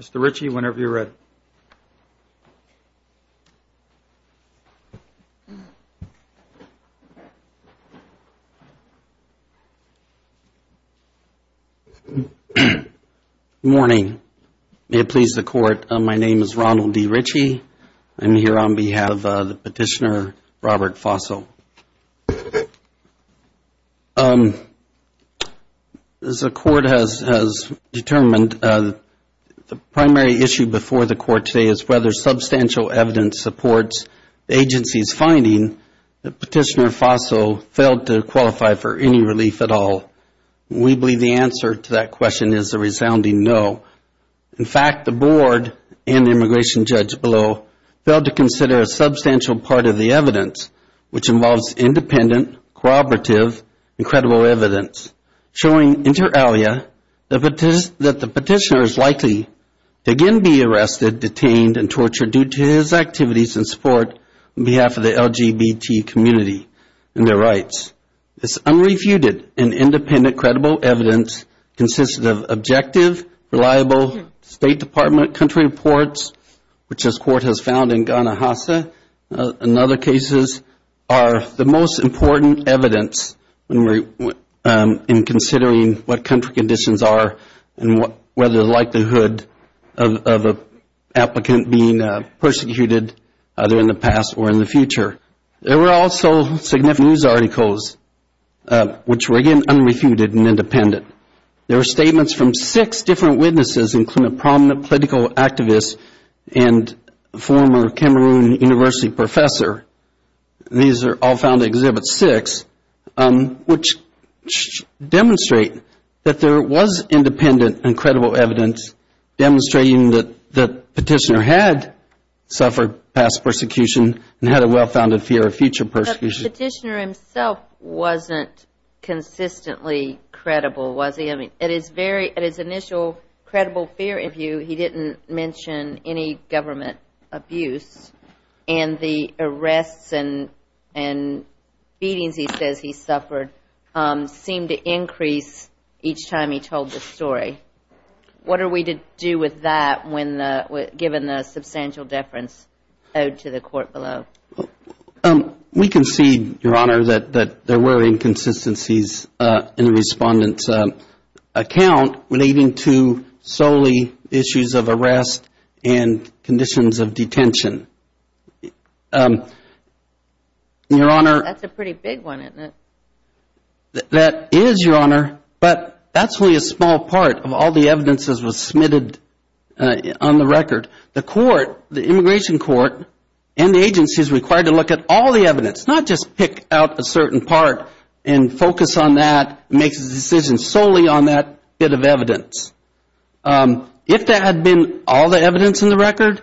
Mr. Ritchie, whenever you're ready. Good morning. May it please the Court, my name is Ronald D. Ritchie. I'm here on behalf of the Petitioner Robert Fosso. As the Court has determined, the primary issue before the Court today is whether substantial evidence supports the agency's finding that Petitioner Fosso failed to qualify for any relief at all. We believe the answer to that question is a resounding no. In fact, the Board and the immigration judge below failed to consider a substantial part of the evidence, which involves independent, cooperative, and credible evidence, showing inter alia that the Petitioner is likely to again be arrested, detained, and tortured due to his activities and support on behalf of the LGBT community and their rights. This unrefuted and independent, credible evidence consists of objective, reliable State Department country reports, which this Court has found in Guanahasseh and other cases are the most important evidence in considering what country conditions are and whether the likelihood of an applicant being persecuted either in the past or in the future. There were also significant news articles, which were again unrefuted and independent. There were statements from six different witnesses, including a prominent political activist and former Cameroon University professor. These are all found in Exhibit 6, which demonstrate that there was independent and credible evidence demonstrating that Petitioner had suffered past persecution and had a well-founded fear of future persecution. The Petitioner himself wasn't consistently credible, was he? At his initial credible fear review, he didn't mention any government abuse, and the arrests and beatings he says he suffered seemed to increase each time he told the story. What are we to do with that given the substantial deference owed to the Court below? We concede, Your Honor, that there were inconsistencies in the Respondent's account relating to solely issues of arrest and conditions of detention. That's a pretty big one, isn't it? That is, Your Honor, but that's only a small part of all the evidence that was submitted on the record. The immigration court and the agency is required to look at all the evidence, not just pick out a certain part and focus on that and make a decision solely on that bit of evidence. If there had been all the evidence in the record,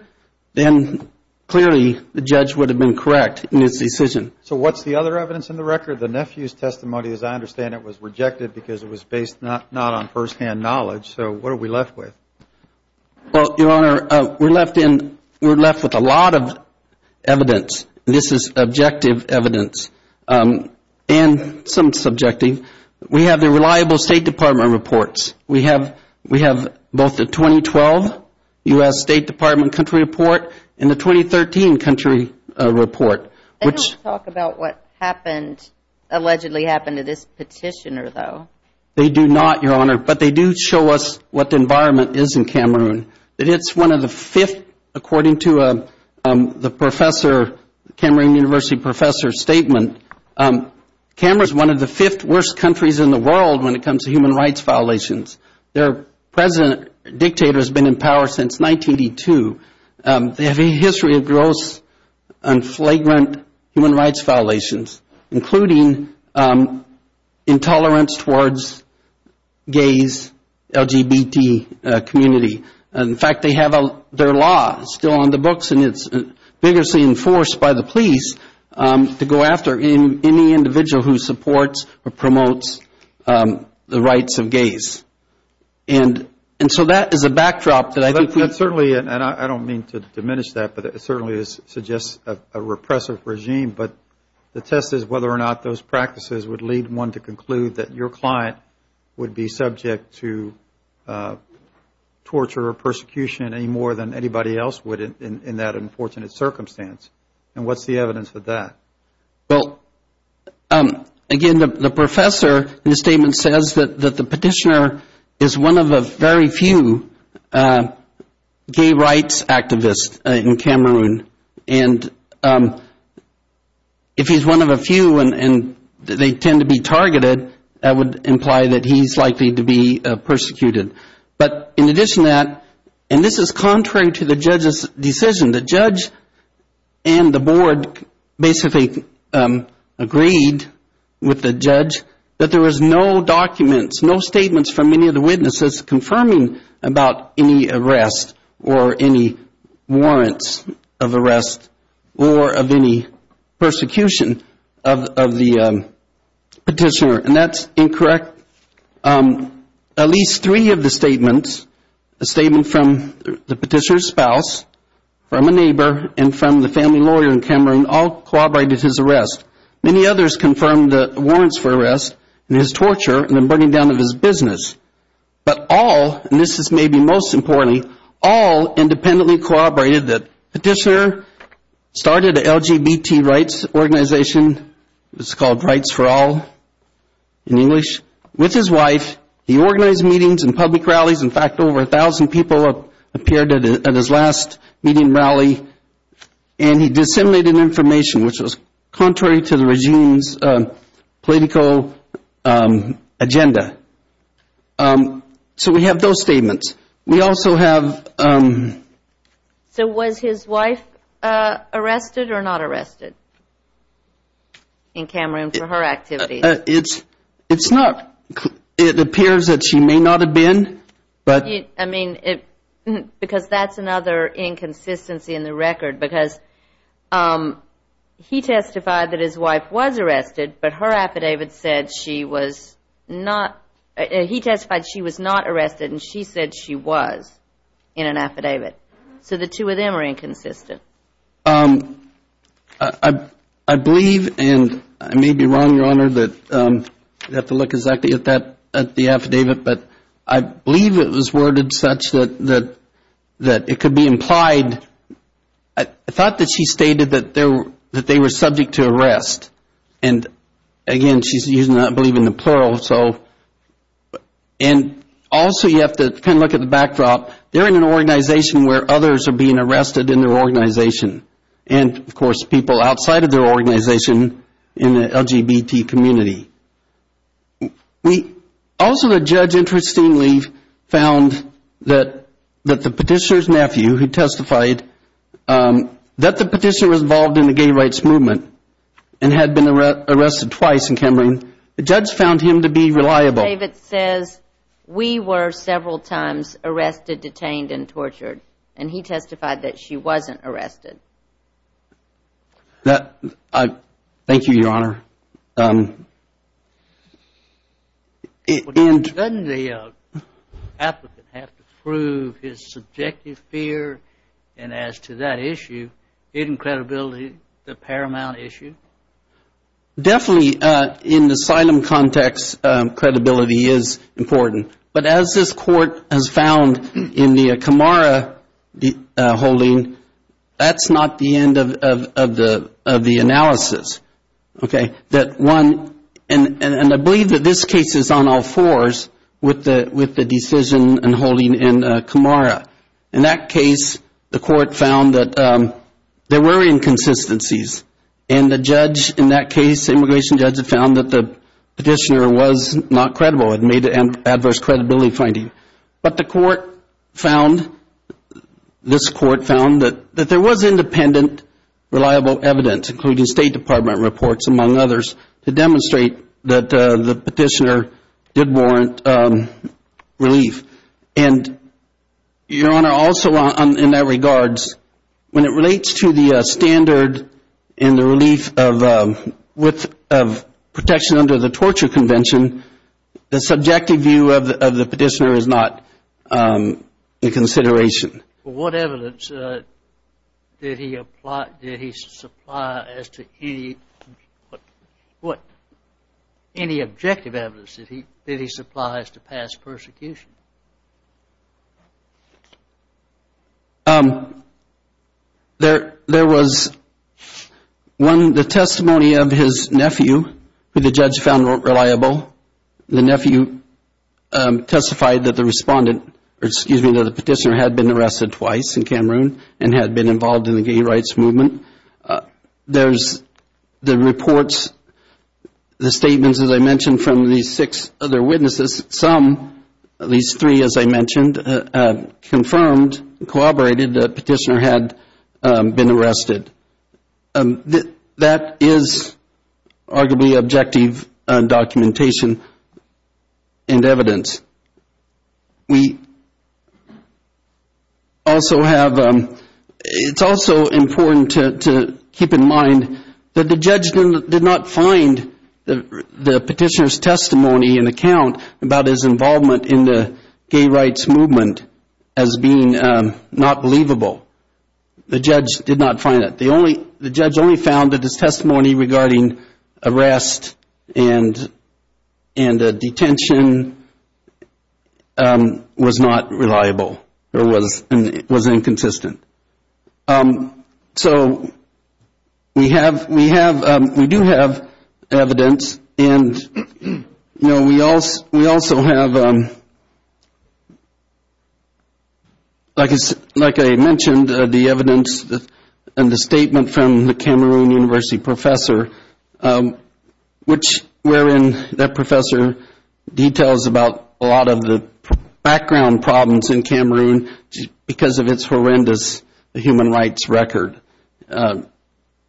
then clearly the judge would have been correct in his decision. So what's the other evidence in the record? The nephew's testimony, as I understand it, was rejected because it was based not on firsthand knowledge. So what are we left with? Well, Your Honor, we're left with a lot of evidence. This is objective evidence and some subjective. We have the reliable State Department reports. We have both the 2012 U.S. State Department country report and the 2013 country report. They don't talk about what happened, allegedly happened to this petitioner, though. They do not, Your Honor, but they do show us what the environment is in Cameroon. It's one of the fifth, according to the professor, Cameroon University professor's statement, Cameroon is one of the fifth worst countries in the world when it comes to human rights violations. Their president, dictator, has been in power since 1982. They have a history of gross and flagrant human rights violations, including intolerance towards gays, LGBT community. In fact, they have their law still on the books and it's vigorously enforced by the police to go after any individual who supports or promotes the rights of gays. And so that is a backdrop that I think we... And I don't mean to diminish that, but it certainly suggests a repressive regime, but the test is whether or not those practices would lead one to conclude that your client would be subject to torture or persecution any more than anybody else would in that unfortunate circumstance. And what's the evidence of that? Well, again, the professor in the statement says that the petitioner is one of the very few gay rights activists in Cameroon. And if he's one of the few and they tend to be targeted, that would imply that he's likely to be persecuted. But in addition to that, and this is contrary to the judge's decision, the judge and the board basically agreed with the judge that there was no documents, no statements from any of the witnesses confirming about any arrest or any warrants of arrest or of any persecution of the petitioner. And that's incorrect. At least three of the statements, a statement from the petitioner's spouse, from a neighbor, and from the family lawyer in Cameroon all corroborated his arrest. Many others confirmed the warrants for arrest and his torture and the burning down of his business. But all, and this is maybe most importantly, all independently corroborated that the petitioner started an LGBT rights organization, it's called Rights for All in English, with his wife. He organized meetings and public rallies. In fact, over a thousand people appeared at his last meeting rally and he disseminated information which was contrary to the regime's political agenda. So we have those statements. We also have... So was his wife arrested or not arrested in Cameroon for her activities? It's not, it appears that she may not have been, but... I mean, because that's another inconsistency in the record. Because he testified that his wife was arrested, but her affidavit said she was not. He testified she was not arrested and she said she was in an affidavit. So the two of them are inconsistent. I believe, and I may be wrong, Your Honor, but you have to look exactly at that, at the affidavit. But I believe it was worded such that it could be implied... I thought that she stated that they were subject to arrest. And again, she's not believing the plural, so... And also you have to kind of look at the backdrop. They're in an organization where others are being arrested in their organization. And, of course, people outside of their organization in the LGBT community. Also, the judge interestingly found that the petitioner's nephew, who testified that the petitioner was involved in the gay rights movement and had been arrested twice in Cameroon, the judge found him to be reliable. The affidavit says, we were several times arrested, detained, and tortured. And he testified that she wasn't arrested. Thank you, Your Honor. Doesn't the applicant have to prove his subjective fear? And as to that issue, hidden credibility, the paramount issue? Definitely, in the asylum context, credibility is important. But as this court has found in the Camara holding, that's not the end of the analysis. Okay? And I believe that this case is on all fours with the decision and holding in Camara. In that case, the court found that there were inconsistencies. And the judge in that case, the immigration judge, had found that the petitioner was not credible and made an adverse credibility finding. But the court found, this court found, that there was independent, reliable evidence, including State Department reports, among others, to demonstrate that the petitioner did warrant relief. And, Your Honor, also in that regards, when it relates to the standard and the relief of protection under the torture convention, the subjective view of the petitioner is not in consideration. What evidence did he apply, did he supply as to any, what, any objective evidence did he supply as to past persecution? There was one, the testimony of his nephew, who the judge found reliable. The nephew testified that the respondent, or excuse me, that the petitioner had been arrested twice in Cameroon and had been involved in the gay rights movement. The statements, as I mentioned, from the six other witnesses, some, at least three, as I mentioned, confirmed, corroborated that the petitioner had been arrested. That is arguably objective documentation and evidence. We also have, it's also important to keep in mind that the judge did not find the petitioner's testimony and account about his involvement in the gay rights movement as being not believable. The judge did not find it. The judge only found that his testimony regarding arrest and detention was not reliable or was inconsistent. So we have, we do have evidence and, you know, we also have, like I mentioned, the evidence and the statement from the Cameroon University professor, which wherein that professor details about a lot of the background problems in Cameroon because of its horrendous human rights record,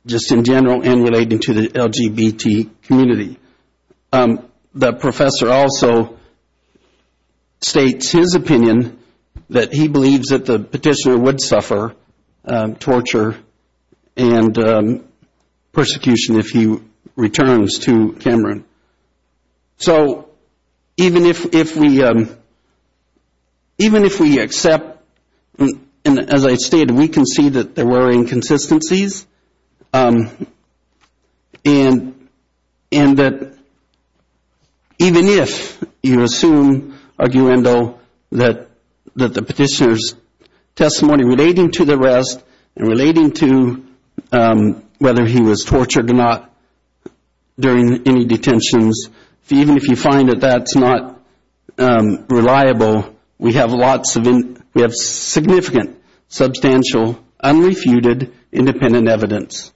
just in general and relating to the LGBT community. The professor also states his opinion that he believes that the petitioner would suffer torture and persecution if he returns to Cameroon. So even if we accept, and as I stated, we can see that there were inconsistencies and that even if you assume, arguendo, that the petitioner's testimony relating to the arrest and relating to whether he was tortured or not during any detention, even if you find that that's not reliable, we have significant, substantial, unrefuted, independent evidence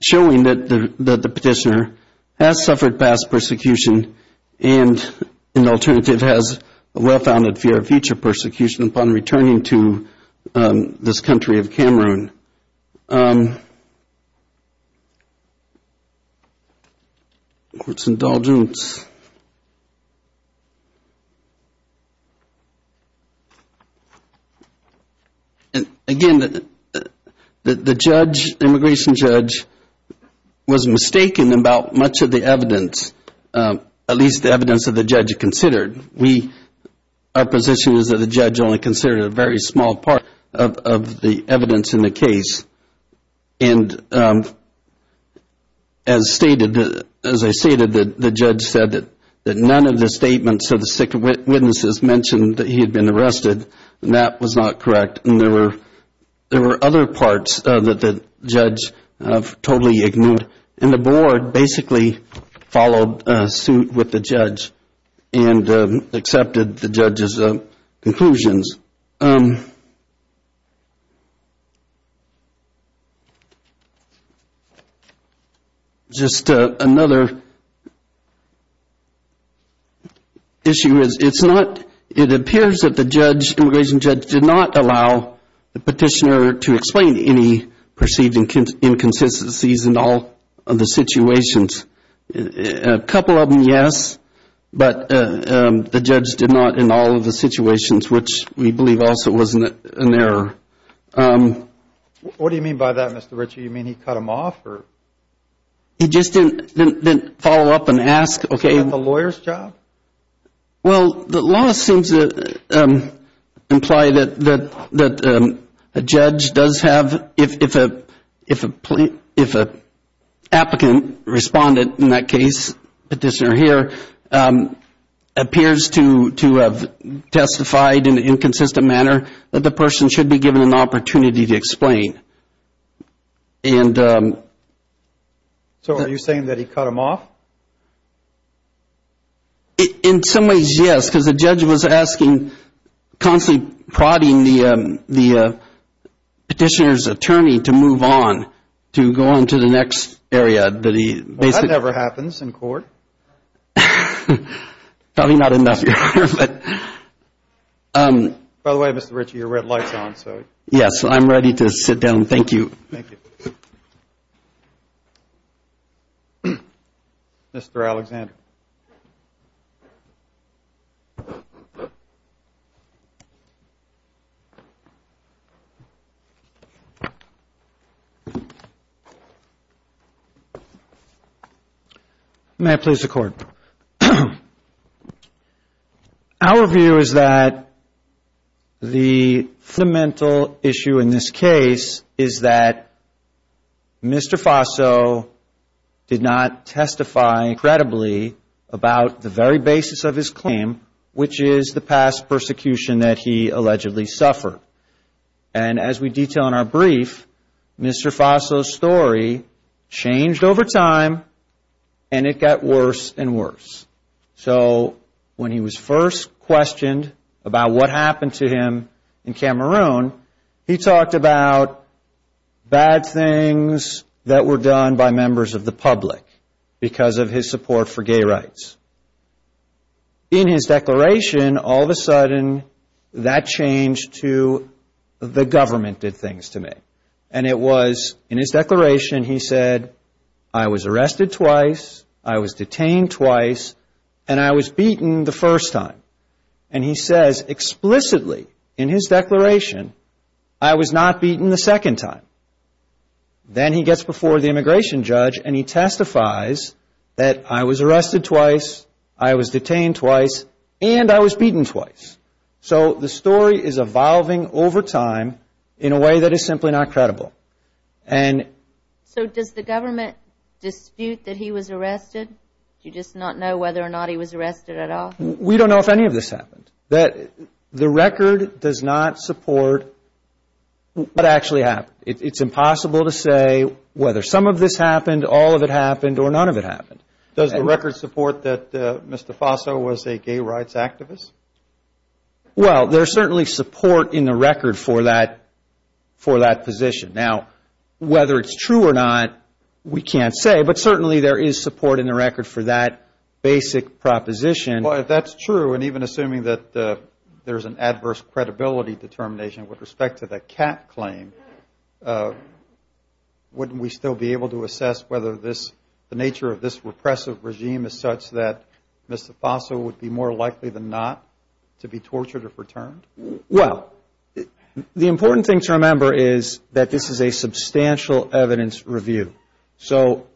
showing that the petitioner has suffered past persecution and an alternative has a well-founded fear of future persecution upon returning to this country of Cameroon. And again, the immigration judge was mistaken about much of the evidence, at least the evidence that the judge considered. Our position is that the judge only considered a very small part of the evidence in the case. And as stated, the judge said that none of the statements of the sick witnesses mentioned that he had been arrested, and that was not correct, and there were other parts that the judge totally ignored. And the board basically followed suit with the judge and accepted the judge's conclusions. Just another issue is it's not, it appears that the judge, the immigration judge, did not allow the petitioner to explain any perceived inconsistencies in all of the situations. A couple of them, yes, but the judge did not in all of the situations, which we believe also was an error. What do you mean by that, Mr. Ritchie? You mean he cut him off or? He just didn't follow up and ask, okay. Is that the lawyer's job? Well, the law seems to imply that a judge does have, if a applicant, respondent in that case, petitioner here, appears to have testified in an inconsistent manner that the person should be given an opportunity to explain. So are you saying that he cut him off? In some ways, yes, because the judge was asking, constantly prodding the petitioner's attorney to move on, to go on to the next area. That never happens in court. By the way, Mr. Ritchie, your red light's on. Yes, I'm ready to sit down. Thank you. May I please record? Our view is that the fundamental issue in this case is that Mr. Faso did not testify credibly about the very basis of his claim, which is the past persecution that he allegedly suffered. And as we detail in our brief, Mr. Faso's story changed over time and it got worse and worse. So when he was first questioned about what happened to him in Cameroon, he talked about bad things that were done by members of the public because of his support for gay rights. In his declaration, all of a sudden, that changed to the government did things to me. And it was in his declaration he said, I was arrested twice, I was detained twice, and I was beaten the first time. And he says explicitly in his declaration, I was not beaten the second time. Then he gets before the immigration judge and he testifies that I was arrested twice, I was detained twice, and I was beaten twice. So the story is evolving over time in a way that is simply not credible. So does the government dispute that he was arrested? Do you just not know whether or not he was arrested at all? We don't know if any of this happened. The record does not support what actually happened. It's impossible to say whether some of this happened, all of it happened, or none of it happened. Does the record support that Mr. Faso was a gay rights activist? Well, there's certainly support in the record for that position. Now, whether it's true or not, we can't say, but certainly there is support in the record for that basic proposition. Well, if that's true, and even assuming that there's an adverse credibility determination with respect to the cat claim, wouldn't we still be able to assess whether the nature of this repressive regime is such that Mr. Faso would be more likely than not to be tortured or for turned? Well, the important thing to remember is that this is a substantial evidence review. So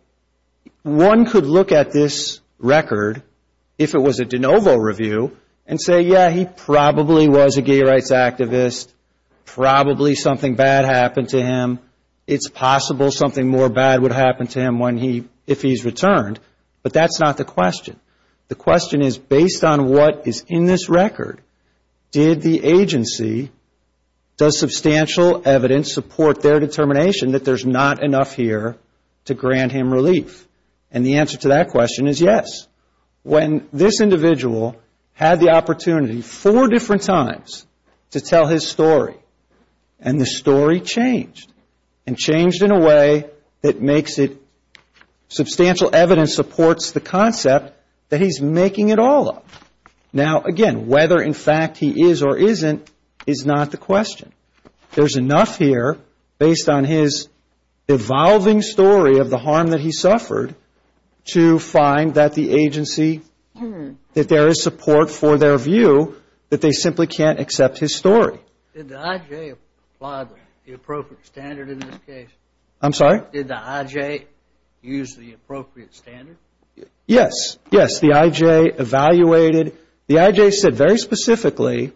one could look at this record, if it was a de novo review, and say, yeah, he probably was a gay rights activist, probably something bad happened to him, it's possible something more bad would happen to him when he, if he's returned. But that's not the question. Does the agency, does substantial evidence support their determination that there's not enough here to grant him relief? And the answer to that question is yes. When this individual had the opportunity four different times to tell his story, and the story changed, and changed in a way that makes it substantial evidence supports the concept that he's making it all up. Now, again, whether in fact he is or isn't is not the question. There's enough here based on his evolving story of the harm that he suffered to find that the agency, that there is support for their view, that they simply can't accept his story. Did the IJ apply the appropriate standard in this case? I'm sorry? Did the IJ use the appropriate standard? Yes, yes, the IJ evaluated, the IJ said very specifically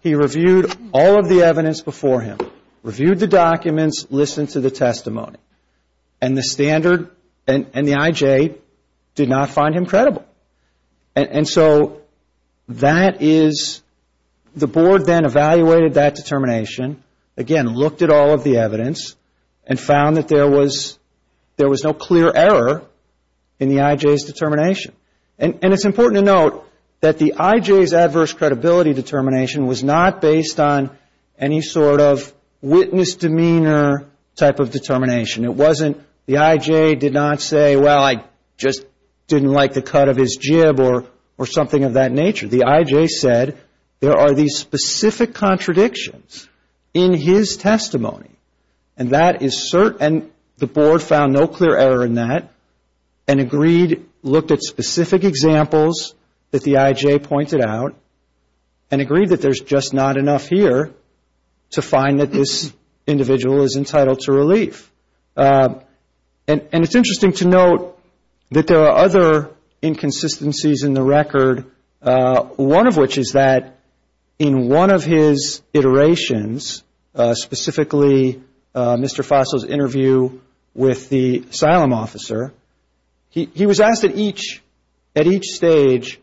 he reviewed all of the evidence before him, reviewed the documents, listened to the testimony. And the standard, and the IJ did not find him credible. And so that is, the board then evaluated that determination, again, looked at all of the evidence, and found that there was no clear error in the IJ's determination. And it's important to note that the IJ's adverse credibility determination was not based on any sort of witness demeanor type of determination. It was not based on his jib or something of that nature. The IJ said there are these specific contradictions in his testimony, and that is certain, and the board found no clear error in that, and agreed, looked at specific examples that the IJ pointed out, and agreed that there's just not enough here to find that this individual is entitled to relief. And it's interesting to note that there are other inconsistencies in the record, one of which is that in one of his iterations, specifically Mr. Fossil's interview with the asylum officer, he was asked at each, at each stage,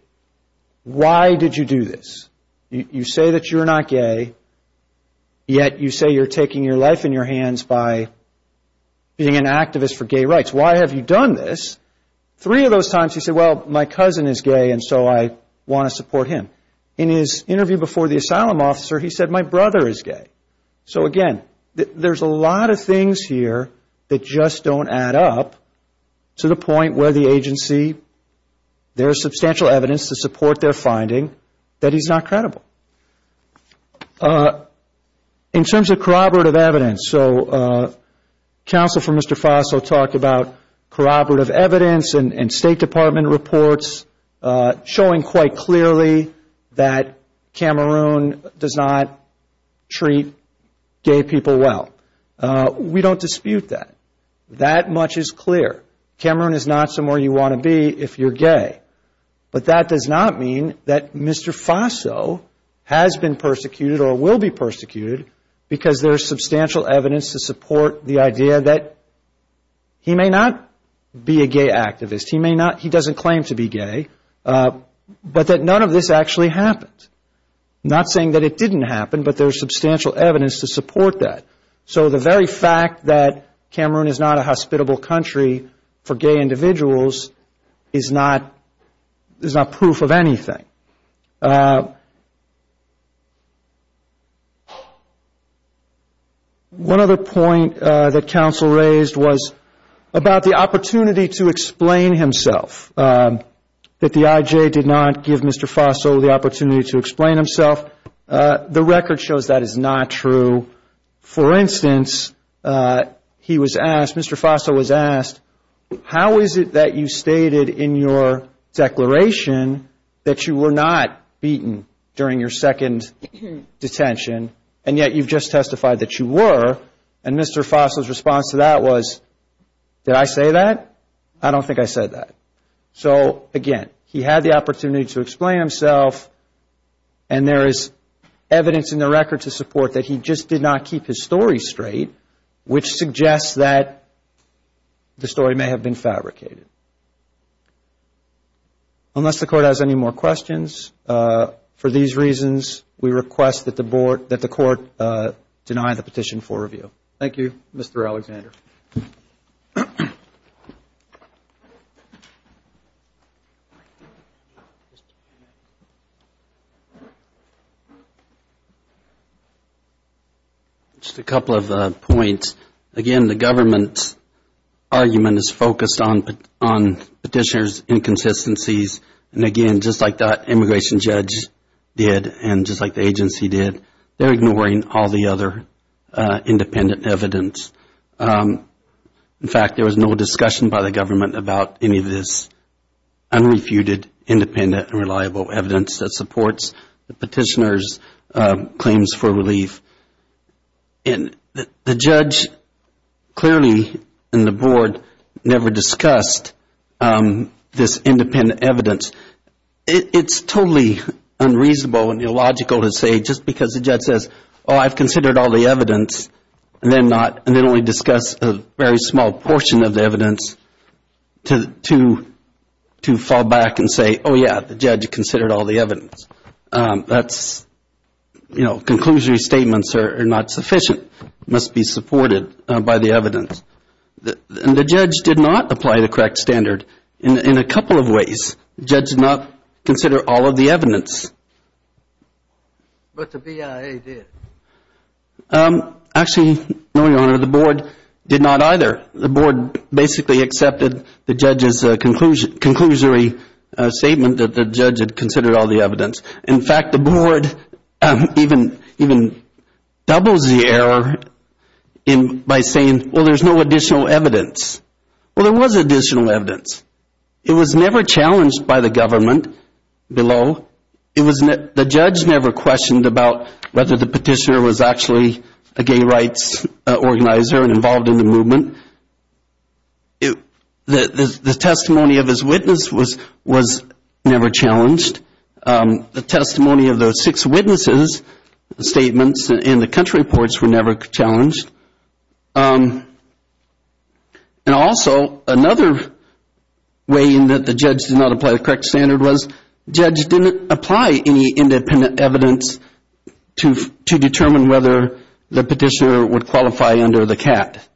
why did you do this? You say that you're not gay, yet you say you're taking your life in your hands by, you know, being an activist for gay rights. Why have you done this? Three of those times he said, well, my cousin is gay, and so I want to support him. In his interview before the asylum officer, he said, my brother is gay. So, again, there's a lot of things here that just don't add up to the point where the agency, there's substantial evidence to support their finding that he's not credible. In terms of corroborative evidence, so counsel for Mr. Fossil talked about corroborative evidence and State Department reports showing quite clearly that Cameroon does not treat gay people well. We don't dispute that. That much is clear. Cameroon is not somewhere you want to be if you're gay. But that does not mean that Mr. Fossil has been persecuted or will be persecuted because there's substantial evidence to support the idea that he may not be a gay activist, he may not, he doesn't claim to be gay, but that none of this actually happened. Not saying that it didn't happen, but there's substantial evidence to support that. So the very fact that Cameroon is not a hospitable country for gay individuals is not proof of anything. One other point that counsel raised was about the opportunity to explain himself, that the IJ did not give Mr. Fossil the opportunity to explain himself, the record shows that is not true. For instance, he was asked, Mr. Fossil was asked, how is it that you stated in your declaration that you were not beaten during your second detention, and yet you've just testified that you were, and Mr. Fossil's response to that was, did I say that? I don't think I said that. And there is evidence in the record to support that he just did not keep his story straight, which suggests that the story may have been fabricated. Unless the Court has any more questions, for these reasons, we request that the Court deny the petition for review. Thank you, Mr. Alexander. Just a couple of points. Again, the government's argument is focused on petitioner's inconsistencies, and again, just like that immigration judge did, and just like the agency did, they're ignoring all the other independent evidence. In fact, there was no discussion by the government about any of this unrefuted independent and reliable evidence that supports the petitioner's claims for relief. The judge clearly and the Board never discussed this independent evidence. It's totally unreasonable and illogical to say, just because the judge says, oh, I've considered all the evidence, and then only discuss a very small portion of the evidence, to fall back and say, oh, yeah, the judge considered all the evidence. That's, you know, conclusory statements are not sufficient, must be supported by the evidence. And the judge did not apply the correct standard in a couple of ways. The judge did not consider all of the evidence. But the BIA did. Actually, no, Your Honor, the Board did not either. The Board basically accepted the judge's conclusory statement that the judge had considered all the evidence. In fact, the Board even doubles the error by saying, well, there's no additional evidence. Well, there was additional evidence. It was never challenged by the government below. The judge never questioned about whether the petitioner was actually a gay rights organizer and involved in the movement. The testimony of his witness was never challenged. The testimony of the six witnesses' statements in the country reports were never challenged. And also, another way in that the judge did not apply the correct standard was, the judge didn't apply any independent evidence to determine whether the petitioner would qualify under the CAT.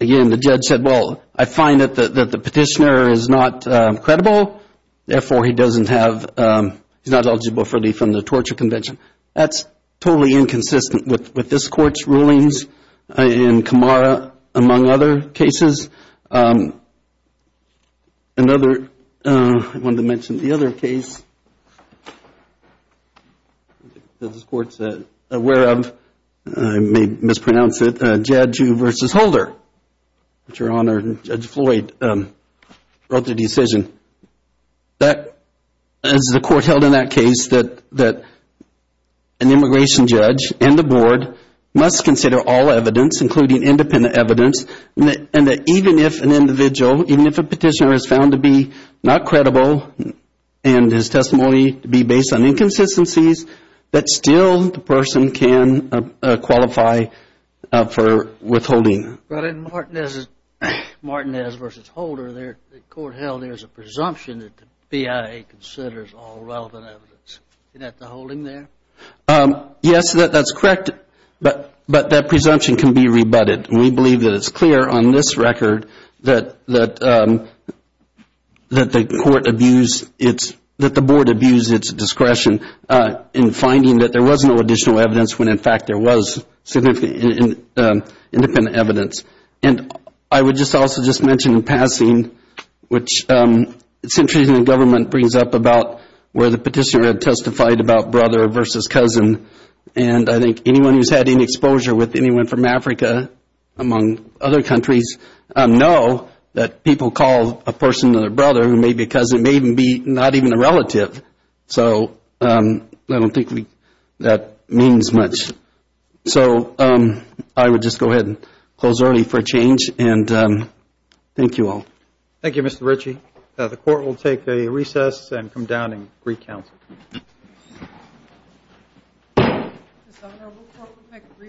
Again, the judge said, well, I find that the petitioner is not credible. Therefore, he doesn't have, he's not eligible for relief from the torture convention. That's totally inconsistent with this Court's rulings in Kamara, among other cases. Another, I wanted to mention the other case that this Court's aware of, I may mispronounce it, Jadju v. Holder, which Your Honor, Judge Floyd wrote the decision. That, as the Court held in that case, that an immigration judge and the Board must consider all evidence, including independent evidence, and that even if an individual, even if a petitioner is found to be not credible, and his testimony to be based on inconsistencies, that still the person can qualify for withholding. But in Martinez v. Holder, the Court held there's a presumption that the BIA considers all relevant evidence. Isn't that the holding there? We believe that it's clear on this record that the Board abused its discretion in finding that there was no additional evidence when, in fact, there was significant independent evidence. And I would just also just mention in passing, which centuries in government brings up about where the petitioner testified about brother versus cousin. And I think anyone who's had any exposure with anyone from Africa, among other countries, know that people call a person their brother because it may even be not even a relative. So I don't think that means much. So I would just go ahead and close early for a change, and thank you all. Thank you, Mr. Ritchie. The Court will take a recess and come down and recount. Thank you.